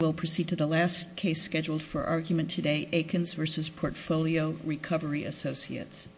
We'll proceed to the last case scheduled for argument today, Aikens v. Portfolio Recovery Associates. Aikens v. Portfolio Recovery Associates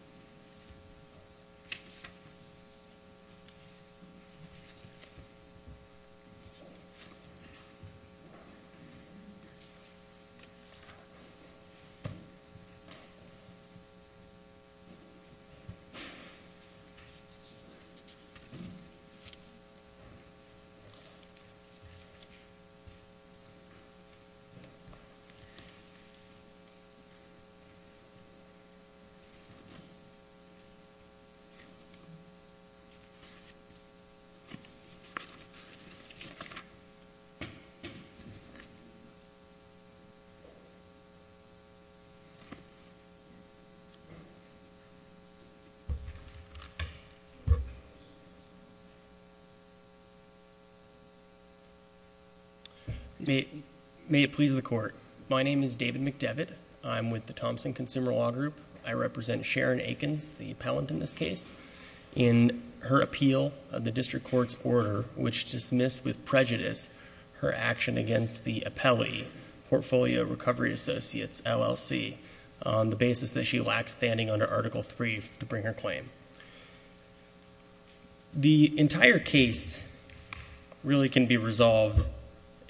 May it please the Court. My name is David McDevitt. I'm with the Thompson Consumer Law Group. I represent Sharon Aikens, the appellant in this case, in her appeal of the District Court's order, which dismissed with prejudice her action against the appellee, Portfolio Recovery Associates, LLC, on the basis that she lacks standing under Article III to bring her claim. The entire case really can be resolved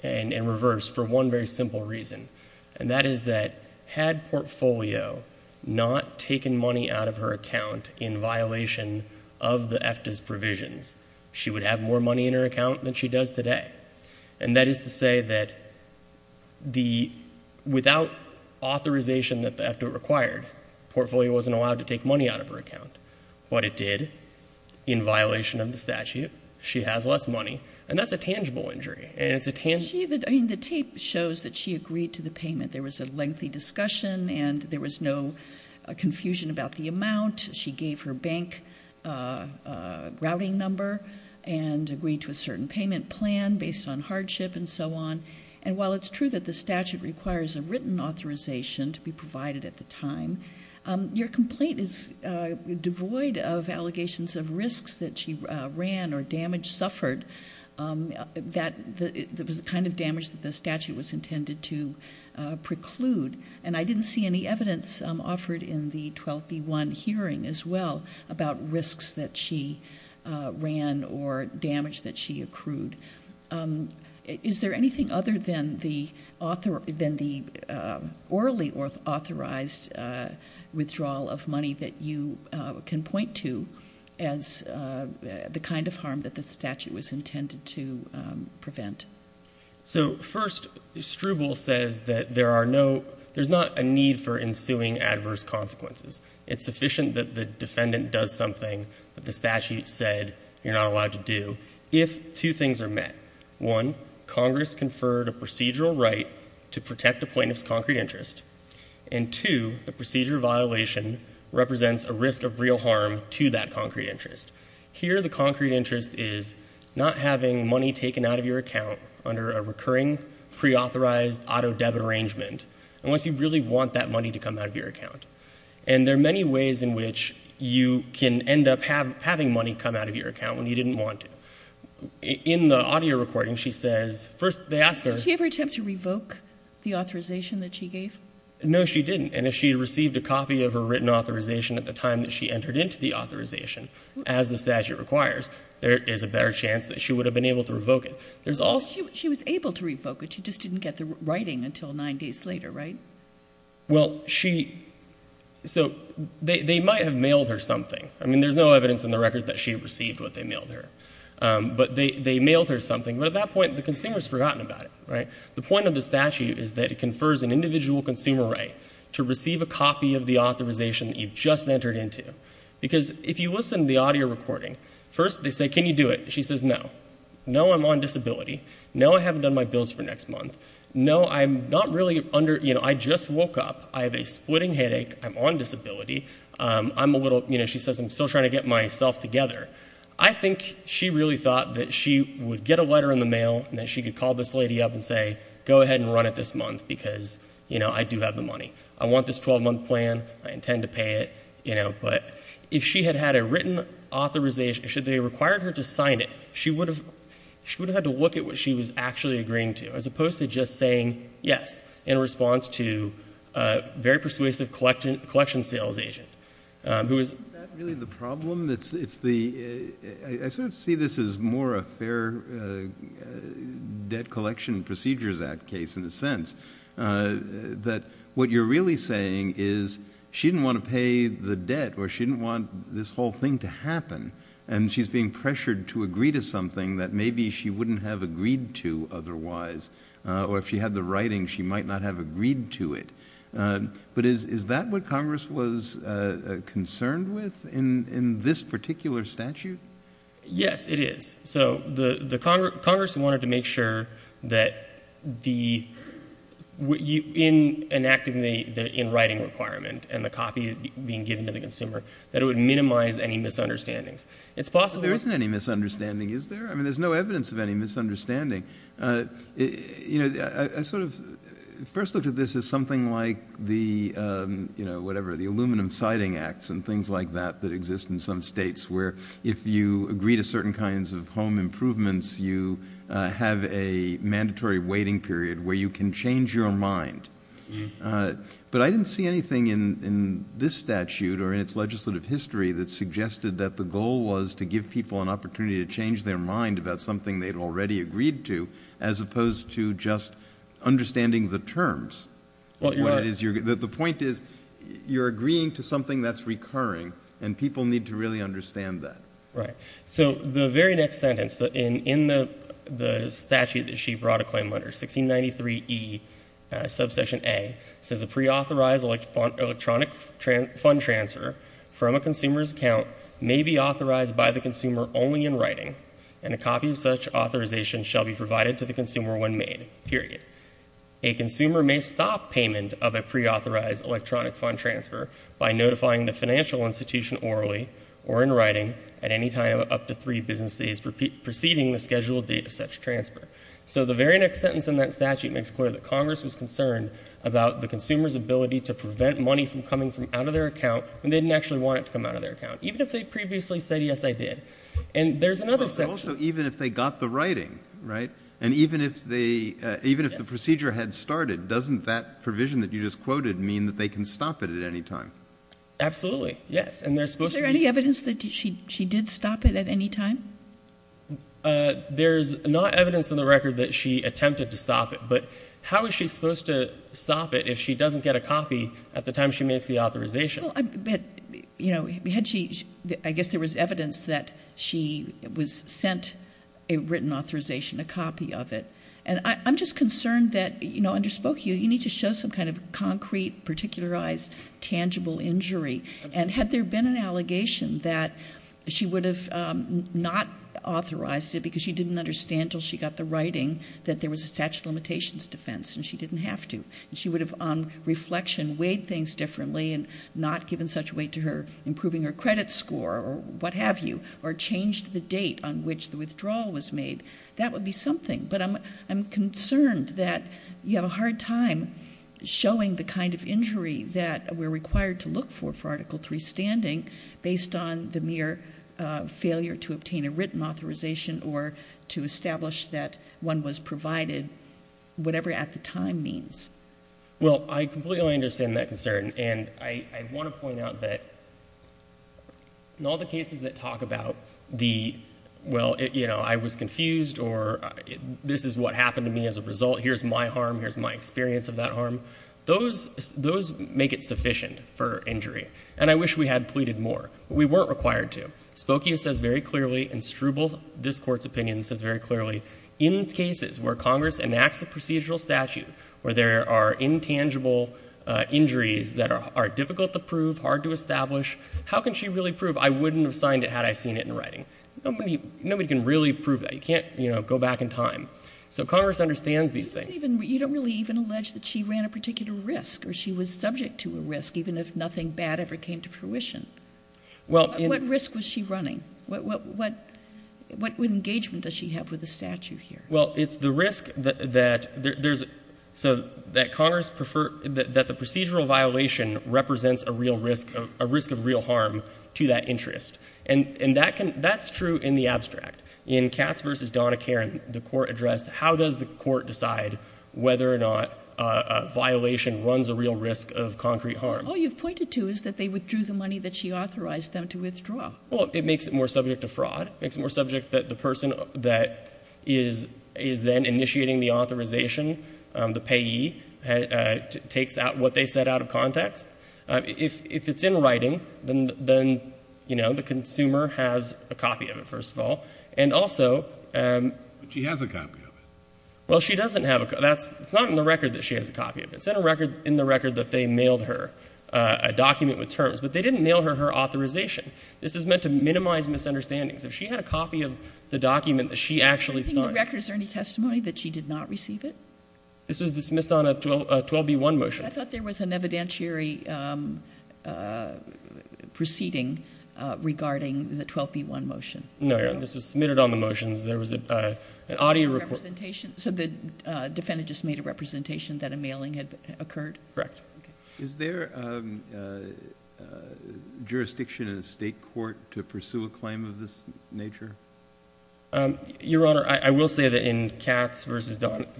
in reverse for one very simple reason, and that is that had Portfolio not taken money out of her account in violation of the EFTA's provisions, she would have more money in her account than she does today. And that is to say that without authorization that the EFTA required, Portfolio wasn't allowed to take money out of her account. What it did, in violation of the statute, she has less money, and that's a tangible injury. The tape shows that she agreed to the payment. There was a lengthy discussion and there was no confusion about the amount. She gave her bank a routing number and agreed to a certain payment plan based on hardship and so on. And while it's true that the statute requires a written authorization to be provided at the time, your complaint is devoid of allegations of risks that she ran or damage suffered that was the kind of damage that the statute was intended to preclude. And I didn't see any evidence offered in the 12B1 hearing as well about risks that she ran or damage that she accrued. Is there anything other than the orally authorized withdrawal of money that you can point to as the kind of harm that the statute was intended to prevent? So first, Struble says that there's not a need for ensuing adverse consequences. It's sufficient that the defendant does something that the statute said you're not allowed to do. And if two things are met, one, Congress conferred a procedural right to protect a plaintiff's concrete interest, and two, the procedure violation represents a risk of real harm to that concrete interest. Here, the concrete interest is not having money taken out of your account under a recurring preauthorized auto-debit arrangement unless you really want that money to come out of your account. And there are many ways in which you can end up having money come out of your account when you didn't want to. In the audio recording, she says, first they ask her. Did she ever attempt to revoke the authorization that she gave? No, she didn't. And if she had received a copy of her written authorization at the time that she entered into the authorization, as the statute requires, there is a better chance that she would have been able to revoke it. She was able to revoke it. She just didn't get the writing until nine days later, right? Well, so they might have mailed her something. I mean, there's no evidence in the record that she received what they mailed her. But they mailed her something. But at that point, the consumer has forgotten about it, right? The point of the statute is that it confers an individual consumer right to receive a copy of the authorization that you've just entered into. Because if you listen to the audio recording, first they say, can you do it? She says, no. No, I'm on disability. No, I haven't done my bills for next month. No, I'm not really under, you know, I just woke up. I have a splitting headache. I'm on disability. I'm a little, you know, she says, I'm still trying to get myself together. I think she really thought that she would get a letter in the mail and that she could call this lady up and say, go ahead and run it this month because, you know, I do have the money. I want this 12-month plan. I intend to pay it, you know. But if she had had a written authorization, should they have required her to sign it, she would have had to look at what she was actually agreeing to as opposed to just saying yes in response to a very persuasive collection sales agent. Isn't that really the problem? I sort of see this as more a Fair Debt Collection Procedures Act case in a sense, that what you're really saying is she didn't want to pay the debt or she didn't want this whole thing to happen and she's being pressured to agree to something that maybe she wouldn't have agreed to otherwise or if she had the writing, she might not have agreed to it. But is that what Congress was concerned with in this particular statute? Yes, it is. So Congress wanted to make sure that in enacting the in-writing requirement and the copy being given to the consumer that it would minimize any misunderstandings. It's possible. There isn't any misunderstanding, is there? I mean, there's no evidence of any misunderstanding. You know, I sort of first looked at this as something like the, you know, whatever, the aluminum siding acts and things like that that exist in some states where if you agree to certain kinds of home improvements, you have a mandatory waiting period where you can change your mind. But I didn't see anything in this statute or in its legislative history that suggested that the goal was to give people an opportunity to change their mind about something they'd already agreed to as opposed to just understanding the terms. The point is you're agreeing to something that's recurring and people need to really understand that. Right. So the very next sentence in the statute that she brought a claim under, 1693 E, subsection A, says a preauthorized electronic fund transfer from a consumer's account may be authorized by the consumer only in writing and a copy of such authorization shall be provided to the consumer when made, period. A consumer may stop payment of a preauthorized electronic fund transfer by notifying the financial institution orally or in writing at any time up to three business days preceding the scheduled date of such transfer. So the very next sentence in that statute makes clear that Congress was concerned about the consumer's ability to prevent money from coming from out of their account when they didn't actually want it to come out of their account, even if they previously said, yes, I did. And there's another section. But also even if they got the writing, right, and even if the procedure had started, doesn't that provision that you just quoted mean that they can stop it at any time? Absolutely, yes. Is there any evidence that she did stop it at any time? There's not evidence in the record that she attempted to stop it. But how is she supposed to stop it if she doesn't get a copy at the time she makes the authorization? I guess there was evidence that she was sent a written authorization, a copy of it. And I'm just concerned that, you know, I underspoke you. You need to show some kind of concrete, particularized, tangible injury. And had there been an allegation that she would have not authorized it because she didn't understand until she got the writing that there was a statute of limitations defense and she didn't have to and she would have, on reflection, weighed things differently and not given such weight to her improving her credit score or what have you or changed the date on which the withdrawal was made, that would be something. But I'm concerned that you have a hard time showing the kind of injury that we're required to look for for Article III standing based on the mere failure to obtain a written authorization or to establish that one was provided whatever at the time means. Well, I completely understand that concern. And I want to point out that in all the cases that talk about the, well, you know, I was confused or this is what happened to me as a result. Here's my harm. Here's my experience of that harm. Those make it sufficient for injury. And I wish we had pleaded more. But we weren't required to. Spokia says very clearly and Struble, this Court's opinion, says very clearly in cases where Congress enacts a procedural statute where there are intangible injuries that are difficult to prove, hard to establish, how can she really prove I wouldn't have signed it had I seen it in writing? Nobody can really prove that. You can't, you know, go back in time. So Congress understands these things. You don't really even allege that she ran a particular risk or she was subject to a risk even if nothing bad ever came to fruition. What risk was she running? What engagement does she have with the statute here? Well, it's the risk that there's, so that Congress preferred, that the procedural violation represents a real risk, a risk of real harm to that interest. And that's true in the abstract. In Katz v. Donna Karan, the Court addressed how does the Court decide whether or not a violation runs a real risk of concrete harm. All you've pointed to is that they withdrew the money that she authorized them to withdraw. Well, it makes it more subject to fraud. It makes it more subject that the person that is then initiating the authorization, the payee, takes out what they said out of context. If it's in writing, then, you know, the consumer has a copy of it, first of all. And also — But she has a copy of it. Well, she doesn't have a copy. It's not in the record that she has a copy of it. It's in the record that they mailed her a document with terms. But they didn't mail her her authorization. This is meant to minimize misunderstandings. If she had a copy of the document that she actually signed — Do you think in the record is there any testimony that she did not receive it? This was dismissed on a 12B1 motion. I thought there was an evidentiary proceeding regarding the 12B1 motion. No, Your Honor. This was submitted on the motions. There was an audio — A representation? So the defendant just made a representation that a mailing had occurred? Correct. Is there jurisdiction in a state court to pursue a claim of this nature? Your Honor, I will say that in Katz v.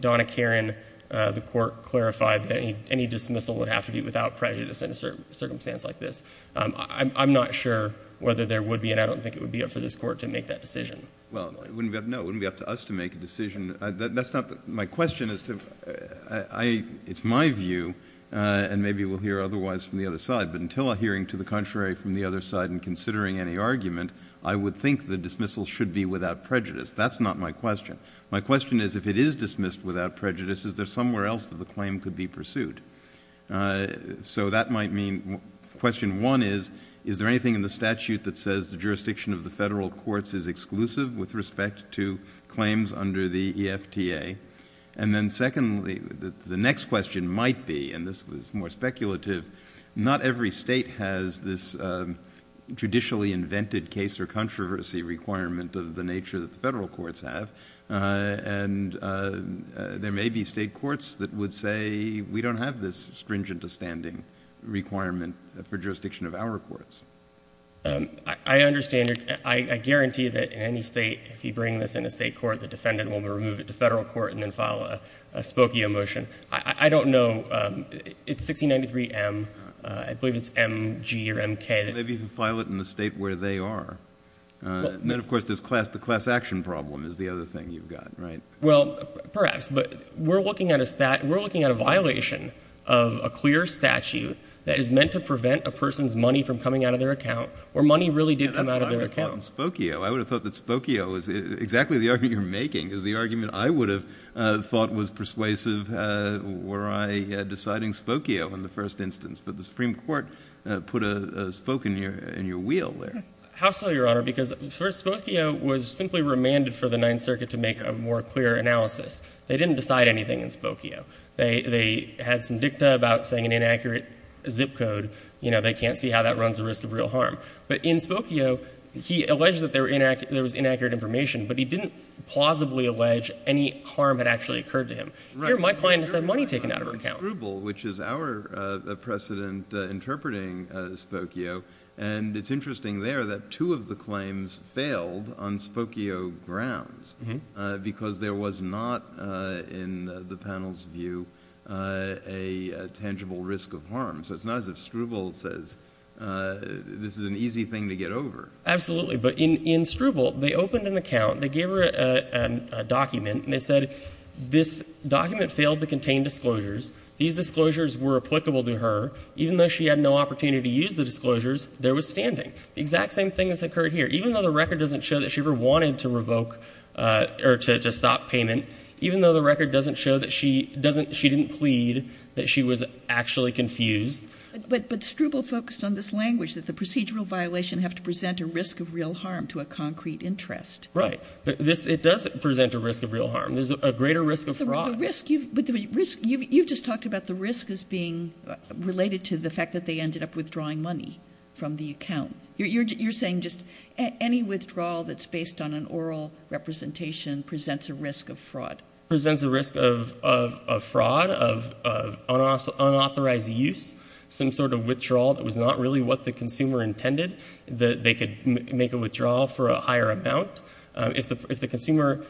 Donna Karan, the Court clarified that any dismissal would have to be without prejudice in a circumstance like this. I'm not sure whether there would be, and I don't think it would be up to this Court to make that decision. Well, no, it wouldn't be up to us to make a decision. That's not — my question is to — it's my view, and maybe we'll hear otherwise from the other side. But until a hearing to the contrary from the other side and considering any argument, I would think the dismissal should be without prejudice. That's not my question. My question is if it is dismissed without prejudice, is there somewhere else that the claim could be pursued? So that might mean — question one is, is there anything in the statute that says the jurisdiction of the federal courts is exclusive with respect to claims under the EFTA? And then secondly, the next question might be, and this was more speculative, not every state has this traditionally invented case or controversy requirement of the nature that the federal courts have. And there may be state courts that would say, we don't have this stringent-to-standing requirement for jurisdiction of our courts. I understand. I guarantee that in any state, if you bring this in a state court, the defendant will remove it to federal court and then file a Spokio motion. I don't know. It's 1693M. I believe it's MG or MK. Maybe you can file it in the state where they are. And then, of course, this class-to-class action problem is the other thing you've got, right? Well, perhaps. But we're looking at a — we're looking at a violation of a clear statute that is meant to prevent a person's money from coming out of their account where money really did come out of their account. That's what I would have thought in Spokio. I would have thought that Spokio is — exactly the argument you're making is the argument I would have thought was persuasive were I deciding Spokio in the first instance. But the Supreme Court put a spoke in your wheel there. How so, Your Honor? Because, first, Spokio was simply remanded for the Ninth Circuit to make a more clear analysis. They didn't decide anything in Spokio. They had some dicta about saying an inaccurate zip code. You know, they can't see how that runs the risk of real harm. But in Spokio, he alleged that there was inaccurate information, but he didn't plausibly allege any harm had actually occurred to him. Here, my client has had money taken out of her account. Right, but you're referring to Scribble, which is our precedent interpreting Spokio. And it's interesting there that two of the claims failed on Spokio grounds because there was not, in the panel's view, a tangible risk of harm. So it's not as if Scribble says this is an easy thing to get over. Absolutely. But in Scribble, they opened an account, they gave her a document, and they said this document failed to contain disclosures. These disclosures were applicable to her. Even though she had no opportunity to use the disclosures, there was standing. The exact same thing has occurred here. Even though the record doesn't show that she ever wanted to revoke or to stop payment, even though the record doesn't show that she didn't plead, that she was actually confused. But Scribble focused on this language, that the procedural violation have to present a risk of real harm to a concrete interest. Right. It does present a risk of real harm. There's a greater risk of fraud. You've just talked about the risk as being related to the fact that they ended up withdrawing money from the account. You're saying just any withdrawal that's based on an oral representation presents a risk of fraud. It presents a risk of fraud, of unauthorized use, some sort of withdrawal that was not really what the consumer intended, that they could make a withdrawal for a higher amount. If the consumer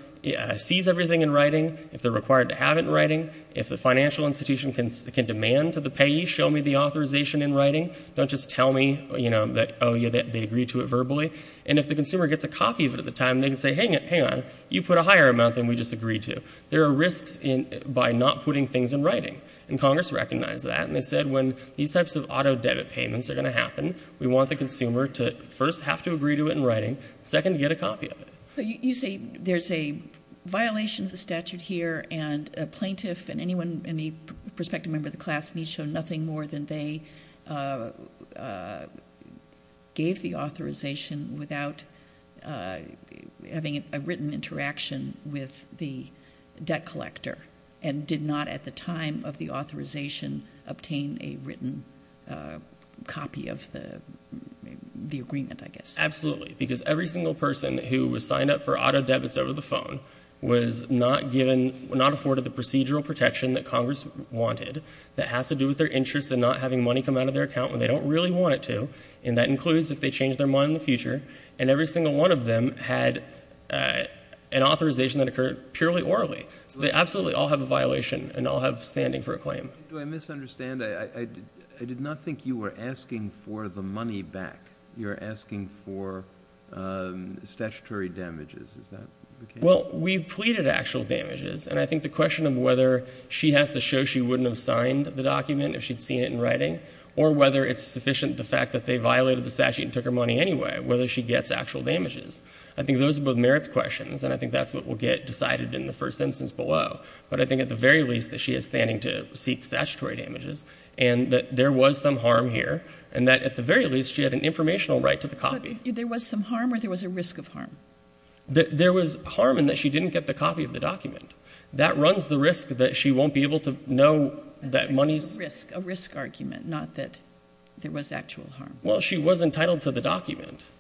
sees everything in writing, if they're required to have it in writing, if the financial institution can demand to the payee, show me the authorization in writing, don't just tell me that they agreed to it verbally. And if the consumer gets a copy of it at the time, they can say, hang on, you put a There are risks by not putting things in writing. And Congress recognized that, and they said when these types of auto-debit payments are going to happen, we want the consumer to first have to agree to it in writing, second, get a copy of it. You say there's a violation of the statute here, and a plaintiff and any prospective member of the class needs to show nothing more than they gave the authorization without having a written interaction with the debt collector, and did not at the time of the authorization obtain a written copy of the agreement, I guess. Absolutely, because every single person who was signed up for auto-debits over the phone was not afforded the procedural protection that Congress wanted, that has to do with their interests and not having money come out of their account when they don't really want it to, and that includes if they change their mind in the future. And every single one of them had an authorization that occurred purely orally. So they absolutely all have a violation and all have standing for a claim. Do I misunderstand? I did not think you were asking for the money back. You're asking for statutory damages. Is that the case? Well, we pleaded actual damages. And I think the question of whether she has to show she wouldn't have signed the document if she'd seen it in writing, or whether it's sufficient the fact that they violated the statute and took her money anyway, whether she gets actual damages. I think those are both merits questions, and I think that's what will get decided in the first instance below. But I think at the very least that she is standing to seek statutory damages and that there was some harm here, and that at the very least she had an informational right to the copy. But there was some harm or there was a risk of harm? There was harm in that she didn't get the copy of the document. That runs the risk that she won't be able to know that money's ---- A risk argument, not that there was actual harm. Well, she was entitled to the document.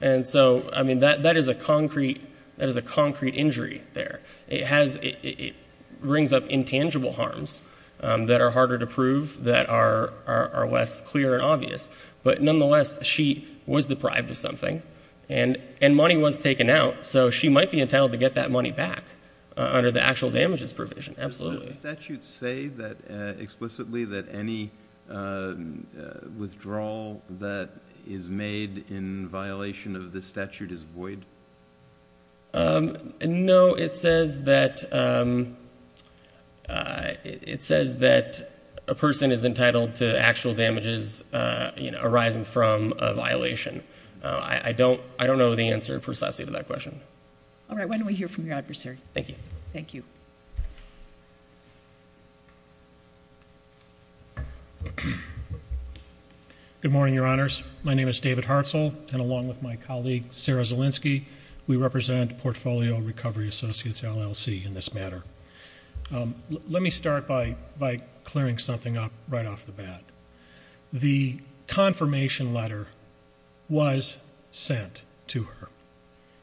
And so, I mean, that is a concrete injury there. It brings up intangible harms that are harder to prove, that are less clear and obvious. But nonetheless, she was deprived of something, and money was taken out, so she might be entitled to get that money back under the actual damages provision. Absolutely. Does the statute say explicitly that any withdrawal that is made in violation of this statute is void? No. It says that a person is entitled to actual damages arising from a violation. I don't know the answer precisely to that question. All right. Why don't we hear from your adversary? Thank you. Thank you. Good morning, Your Honors. My name is David Hartzell, and along with my colleague Sarah Zielinski, we represent Portfolio Recovery Associates, LLC, in this matter. Let me start by clearing something up right off the bat. The confirmation letter was sent to her.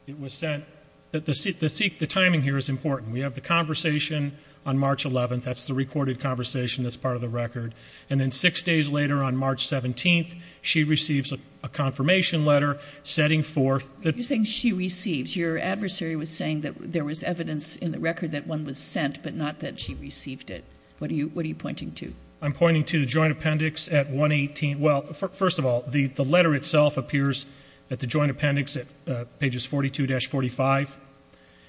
It was sent. The timing here is important. We have the conversation on March 11th. That's the recorded conversation that's part of the record. And then six days later, on March 17th, she receives a confirmation letter setting forth the- You're saying she receives. Your adversary was saying that there was evidence in the record that one was sent, but not that she received it. What are you pointing to? I'm pointing to the joint appendix at 118. Well, first of all, the letter itself appears at the joint appendix at pages 42-45,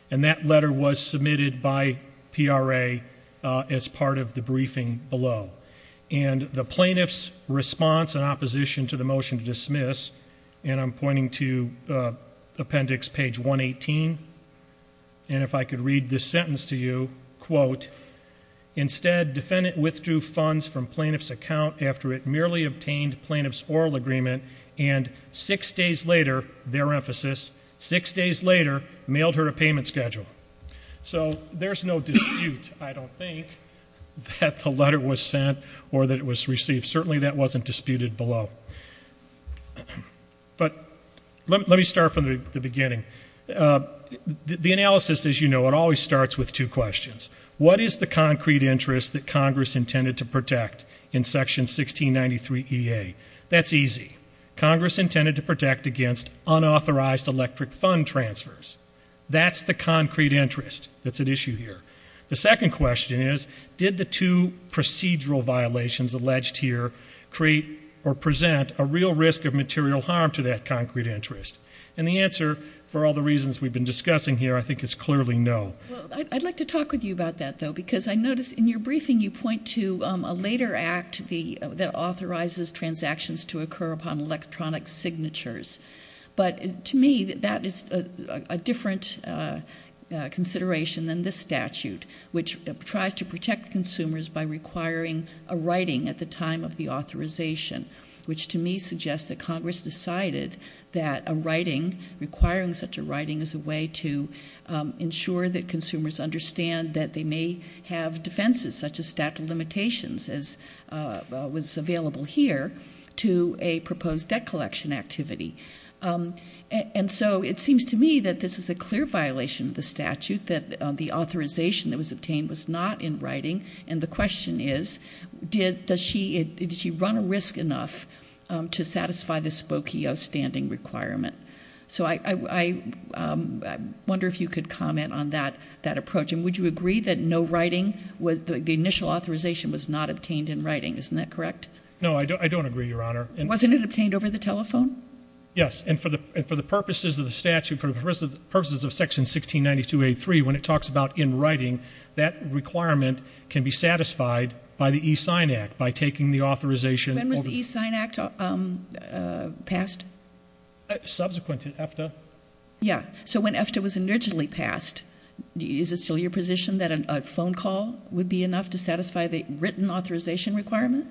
and that letter was submitted by PRA as part of the briefing below. And the plaintiff's response in opposition to the motion to dismiss, and I'm pointing to appendix page 118, and if I could read this sentence to you, quote, instead defendant withdrew funds from plaintiff's account after it merely obtained plaintiff's oral agreement, and six days later, their emphasis, six days later, mailed her a payment schedule. So there's no dispute, I don't think, that the letter was sent or that it was received. Certainly that wasn't disputed below. But let me start from the beginning. The analysis, as you know, it always starts with two questions. What is the concrete interest that Congress intended to protect in Section 1693EA? That's easy. Congress intended to protect against unauthorized electric fund transfers. That's the concrete interest that's at issue here. The second question is, did the two procedural violations alleged here create or present a real risk of material harm to that concrete interest? And the answer, for all the reasons we've been discussing here, I think is clearly no. I'd like to talk with you about that, though, because I notice in your briefing you point to a later act that authorizes transactions to occur upon electronic signatures. But to me, that is a different consideration than this statute, which tries to protect consumers by requiring a writing at the time of the authorization, which to me suggests that Congress decided that a writing, requiring such a writing, is a way to ensure that consumers understand that they may have defenses, such as statute of limitations, as was available here, to a proposed debt collection activity. And so it seems to me that this is a clear violation of the statute, that the authorization that was obtained was not in writing. And the question is, did she run a risk enough to satisfy the Spokio standing requirement? So I wonder if you could comment on that approach. And would you agree that no writing, the initial authorization was not obtained in writing? Isn't that correct? No, I don't agree, Your Honor. Wasn't it obtained over the telephone? Yes. And for the purposes of the statute, for the purposes of Section 1692A3, when it talks about in writing, that requirement can be satisfied by the E-Sign Act, by taking the authorization over. When was the E-Sign Act passed? Subsequent to EFTA. Yeah. So when EFTA was originally passed, is it still your position that a phone call would be enough to satisfy the written authorization requirement?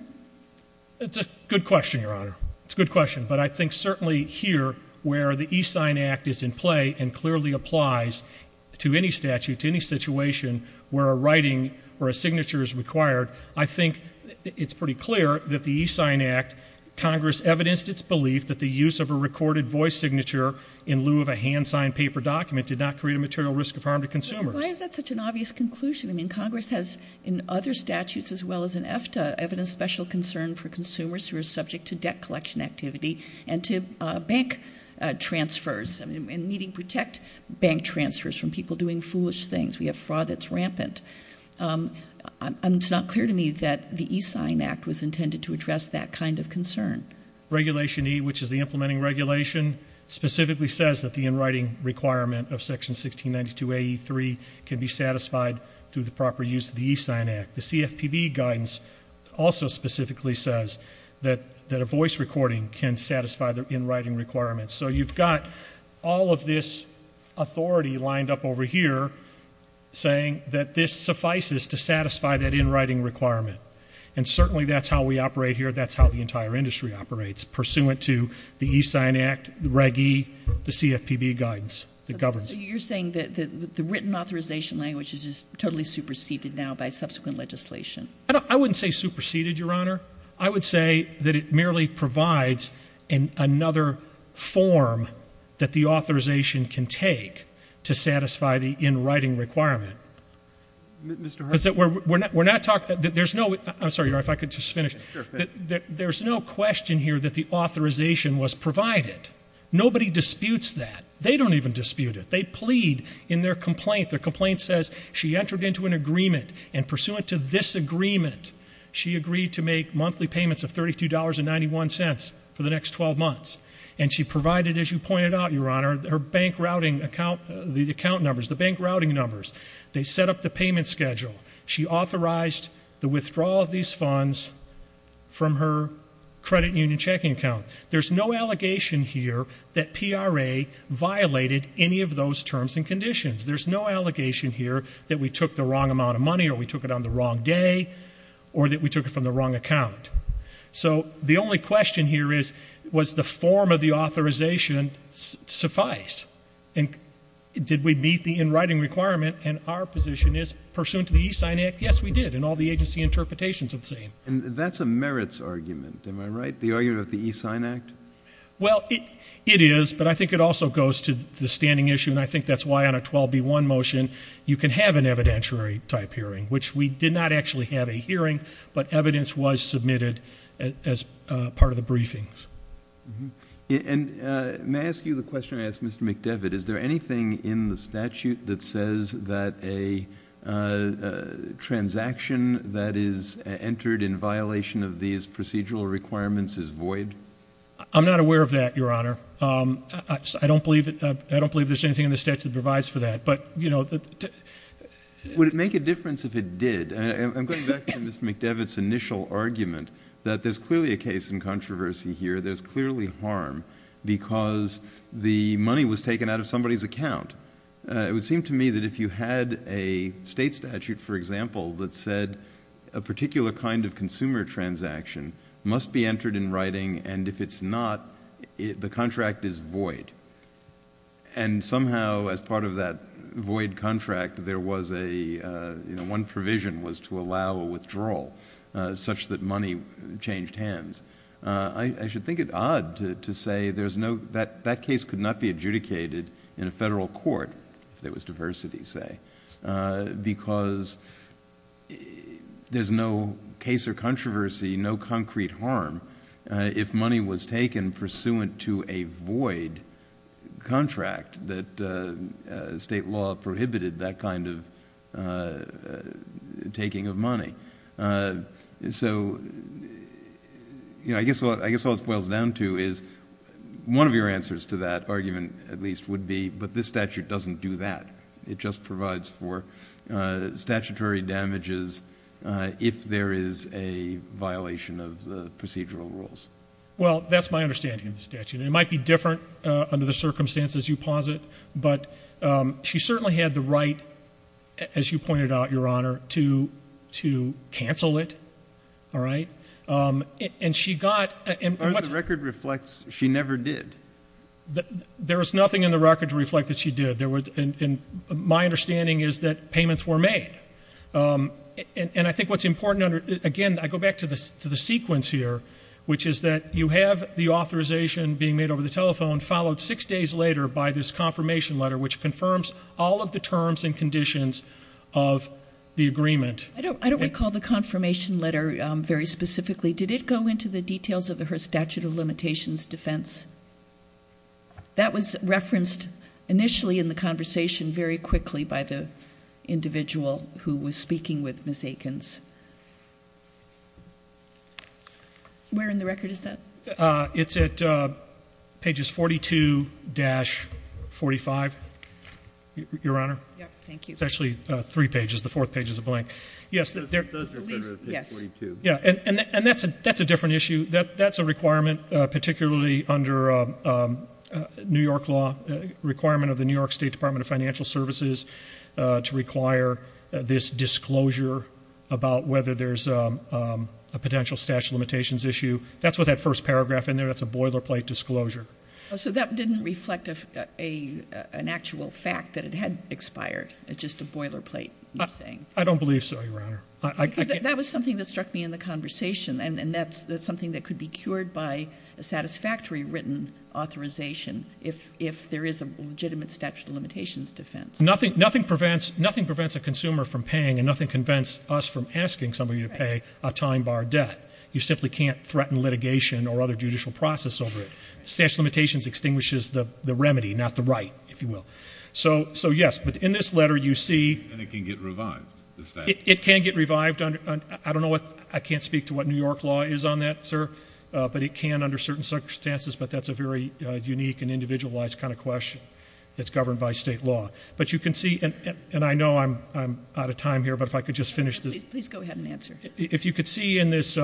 It's a good question, Your Honor. It's a good question. But I think certainly here, where the E-Sign Act is in play and clearly applies to any statute, to any situation where a writing or a signature is required, I think it's pretty clear that the E-Sign Act, Congress evidenced its belief that the use of a recorded voice signature in lieu of a hand-signed paper document did not create a material risk of harm to consumers. Why is that such an obvious conclusion? I mean, Congress has, in other statutes as well as in EFTA, evidenced special concern for consumers who are subject to debt collection activity and to bank transfers and needing to protect bank transfers from people doing foolish things. We have fraud that's rampant. It's not clear to me that the E-Sign Act was intended to address that kind of concern. Regulation E, which is the implementing regulation, specifically says that the in-writing requirement of Section 1692AE3 can be satisfied through the proper use of the E-Sign Act. The CFPB guidance also specifically says that a voice recording can satisfy the in-writing requirement. So you've got all of this authority lined up over here saying that this suffices to satisfy that in-writing requirement. And certainly that's how we operate here, that's how the entire industry operates, pursuant to the E-Sign Act, the Reg E, the CFPB guidance that governs it. So you're saying that the written authorization language is just totally superseded now by subsequent legislation? I wouldn't say superseded, Your Honor. I would say that it merely provides another form that the authorization can take to satisfy the in-writing requirement. Mr. Hersh? I'm sorry, Your Honor, if I could just finish. There's no question here that the authorization was provided. Nobody disputes that. They don't even dispute it. They plead in their complaint. Their complaint says she entered into an agreement, and pursuant to this agreement, she agreed to make monthly payments of $32.91 for the next 12 months. And she provided, as you pointed out, Your Honor, her bank routing account numbers, the bank routing numbers. They set up the payment schedule. She authorized the withdrawal of these funds from her credit union checking account. There's no allegation here that PRA violated any of those terms and conditions. There's no allegation here that we took the wrong amount of money or we took it on the wrong day or that we took it from the wrong account. So the only question here is, was the form of the authorization suffice? And did we meet the in-writing requirement? And our position is, pursuant to the E-Sign Act, yes, we did, and all the agency interpretations are the same. And that's a merits argument, am I right, the argument of the E-Sign Act? Well, it is, but I think it also goes to the standing issue, and I think that's why on a 12B1 motion you can have an evidentiary-type hearing, which we did not actually have a hearing, but evidence was submitted as part of the briefings. And may I ask you the question I asked Mr. McDevitt? Is there anything in the statute that says that a transaction that is entered in violation of these procedural requirements is void? I'm not aware of that, Your Honor. I don't believe there's anything in the statute that provides for that. Would it make a difference if it did? I'm going back to Mr. McDevitt's initial argument that there's clearly a case in controversy here. There's clearly harm because the money was taken out of somebody's account. It would seem to me that if you had a state statute, for example, that said a particular kind of consumer transaction must be entered in writing, and if it's not, the contract is void. Somehow, as part of that void contract, one provision was to allow a withdrawal such that money changed hands. I should think it odd to say that case could not be adjudicated in a federal court, if there was diversity, say, because there's no case or controversy, no concrete harm, if money was taken pursuant to a void contract, that state law prohibited that kind of taking of money. I guess all it boils down to is one of your answers to that argument, at least, would be, but this statute doesn't do that. It just provides for statutory damages if there is a violation of the procedural rules. Well, that's my understanding of the statute. It might be different under the circumstances you posit, but she certainly had the right, as you pointed out, Your Honor, to cancel it, all right? As far as the record reflects, she never did. There is nothing in the record to reflect that she did. My understanding is that payments were made. I think what's important, again, I go back to the sequence here, which is that you have the authorization being made over the telephone, followed six days later by this confirmation letter, which confirms all of the terms and conditions of the agreement. I don't recall the confirmation letter very specifically. Did it go into the details of her statute of limitations defense? That was referenced initially in the conversation very quickly by the individual who was speaking with Ms. Eakins. Where in the record is that? It's at pages 42-45, Your Honor. Thank you. It's actually three pages. The fourth page is a blank. Those are better at page 42. Yes. And that's a different issue. That's a requirement, particularly under New York law, requirement of the New York State Department of Financial Services to require this disclosure about whether there's a potential statute of limitations issue. That's with that first paragraph in there. That's a boilerplate disclosure. So that didn't reflect an actual fact that it had expired. It's just a boilerplate, you're saying. I don't believe so, Your Honor. Because that was something that struck me in the conversation, and that's something that could be cured by a satisfactory written authorization if there is a legitimate statute of limitations defense. Nothing prevents a consumer from paying, and nothing prevents us from asking somebody to pay a time bar debt. You simply can't threaten litigation or other judicial process over it. Statute of limitations extinguishes the remedy, not the right, if you will. So, yes, but in this letter you see — And it can get revived, the statute. It can get revived. I can't speak to what New York law is on that, sir. But it can under certain circumstances, but that's a very unique and individualized kind of question that's governed by state law. But you can see, and I know I'm out of time here, but if I could just finish this. Please go ahead and answer. If you could see in this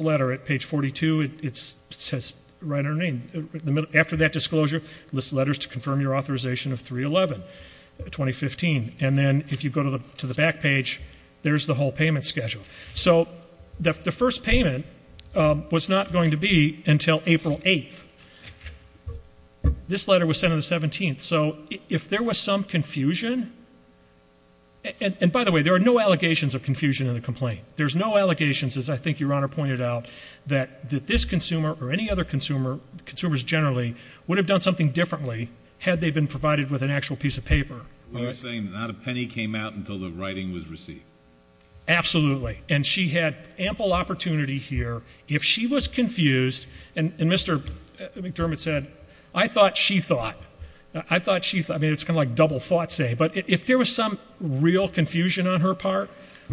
letter at page 42, it says, write her name. After that disclosure, list letters to confirm your authorization of 3-11-2015. And then if you go to the back page, there's the whole payment schedule. So the first payment was not going to be until April 8th. This letter was sent on the 17th. So if there was some confusion, and by the way, there are no allegations of confusion in the complaint. There's no allegations, as I think Your Honor pointed out, that this consumer or any other consumer, consumers generally, piece of paper. You're saying not a penny came out until the writing was received. Absolutely. And she had ample opportunity here. If she was confused, and Mr. McDermott said, I thought she thought. I thought she thought. I mean, it's kind of like double thought say. But if there was some real confusion on her part,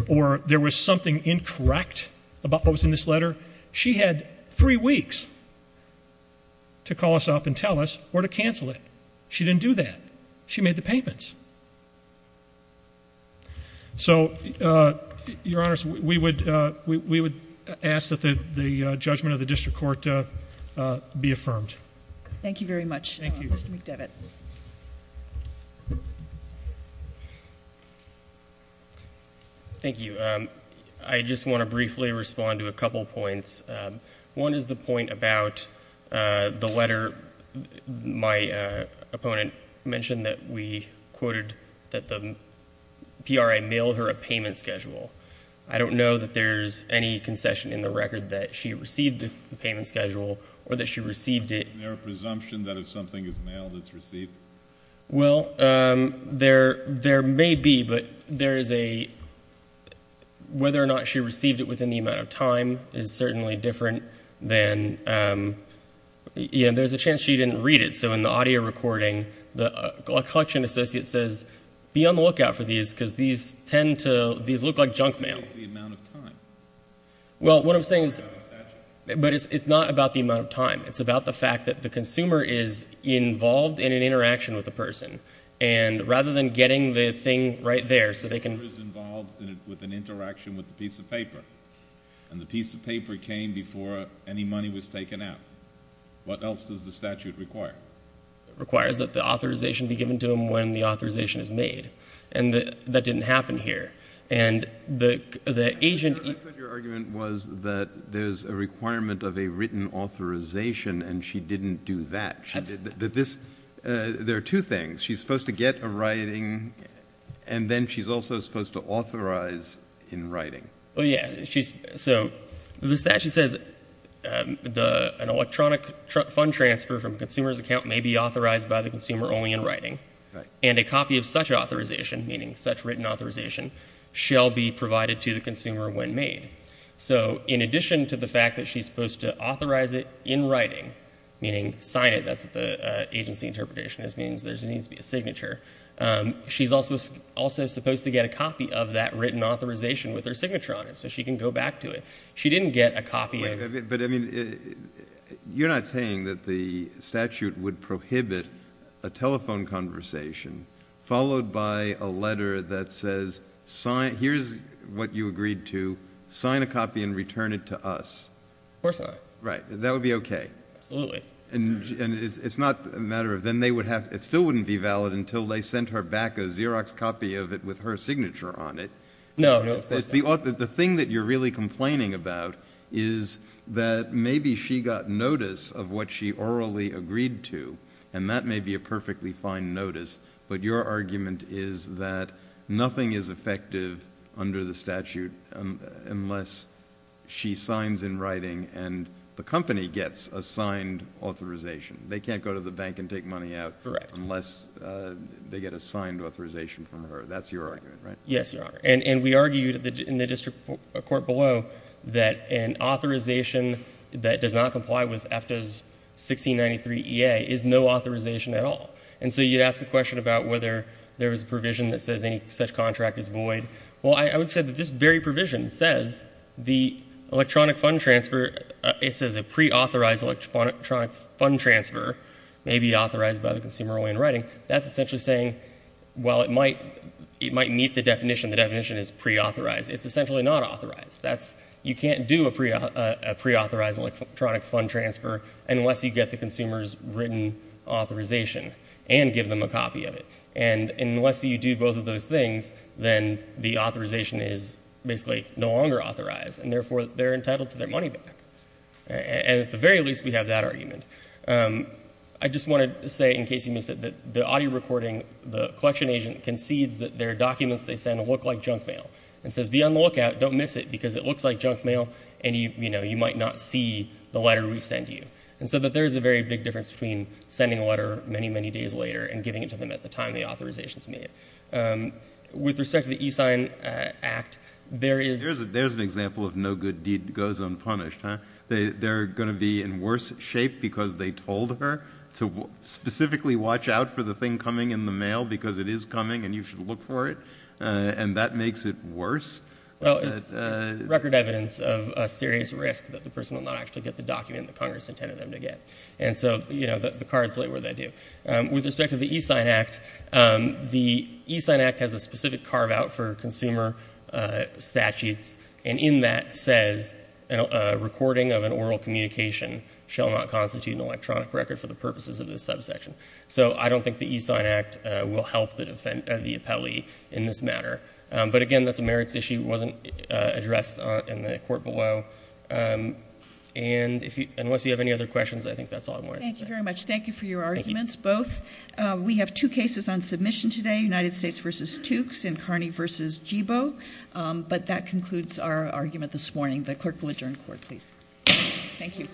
or there was something incorrect about what was in this letter, she had three weeks to call us up and tell us or to cancel it. She didn't do that. She made the payments. So, Your Honor, we would ask that the judgment of the district court be affirmed. Thank you very much, Mr. McDermott. Thank you. Thank you. I just want to briefly respond to a couple points. One is the point about the letter. My opponent mentioned that we quoted that the PRA mailed her a payment schedule. I don't know that there's any concession in the record that she received the payment schedule or that she received it. Is there a presumption that if something is mailed, it's received? Well, there may be. But whether or not she received it within the amount of time is certainly different. There's a chance she didn't read it. So in the audio recording, a collection associate says, be on the lookout for these because these tend to look like junk mail. The amount of time. Well, what I'm saying is it's not about the amount of time. It's about the fact that the consumer is involved in an interaction with the person. And rather than getting the thing right there so they can. The consumer is involved with an interaction with the piece of paper. And the piece of paper came before any money was taken out. What else does the statute require? It requires that the authorization be given to them when the authorization is made. And that didn't happen here. And the agent. Your argument was that there's a requirement of a written authorization, and she didn't do that. There are two things. She's supposed to get a writing, and then she's also supposed to authorize in writing. So the statute says an electronic fund transfer from a consumer's account may be authorized by the consumer only in writing. And a copy of such authorization, meaning such written authorization, shall be provided to the consumer when made. So in addition to the fact that she's supposed to authorize it in writing, meaning sign it, that's what the agency interpretation is, means there needs to be a signature. She's also supposed to get a copy of that written authorization with her signature on it so she can go back to it. She didn't get a copy of it. But, I mean, you're not saying that the statute would prohibit a telephone conversation followed by a letter that says, here's what you agreed to. Sign a copy and return it to us. Of course not. Right. That would be okay. Absolutely. And it's not a matter of then they would have to it still wouldn't be valid until they sent her back a Xerox copy of it with her signature on it. No, of course not. The thing that you're really complaining about is that maybe she got notice of what she orally agreed to, and that may be a perfectly fine notice, but your argument is that nothing is effective under the statute unless she signs in writing and the company gets a signed authorization. They can't go to the bank and take money out unless they get a signed authorization from her. That's your argument, right? Yes, Your Honor. And we argued in the district court below that an authorization that does not comply with AFTA's 1693 EA is no authorization at all. And so you'd ask the question about whether there was a provision that says any such contract is void. Well, I would say that this very provision says the electronic fund transfer, it says a preauthorized electronic fund transfer may be authorized by the consumer only in writing. That's essentially saying, well, it might meet the definition. The definition is preauthorized. It's essentially not authorized. You can't do a preauthorized electronic fund transfer unless you get the consumer's written authorization and give them a copy of it. And unless you do both of those things, then the authorization is basically no longer authorized, and therefore they're entitled to their money back. And at the very least, we have that argument. I just wanted to say, in case you missed it, that the audio recording, the collection agent concedes that their documents they send look like junk mail and says, be on the lookout, don't miss it, because it looks like junk mail and you might not see the letter we send you. And so there is a very big difference between sending a letter many, many days later and giving it to them at the time the authorization is made. With respect to the e-sign act, there is an example of no good deed goes unpunished. They're going to be in worse shape because they told her to specifically watch out for the thing coming in the mail because it is coming and you should look for it, and that makes it worse? Well, it's record evidence of a serious risk that the person will not actually get the document that Congress intended them to get. And so the cards lay where they do. With respect to the e-sign act, the e-sign act has a specific carve-out for consumer statutes, and in that says a recording of an oral communication shall not constitute an electronic record for the purposes of this subsection. So I don't think the e-sign act will help the appellee in this matter. But, again, that's a merits issue. It wasn't addressed in the court below. And unless you have any other questions, I think that's all I wanted to say. Thank you very much. We have two cases on submission today, United States v. Tukes and Carney v. Jibo. But that concludes our argument this morning. The clerk will adjourn court, please. Thank you.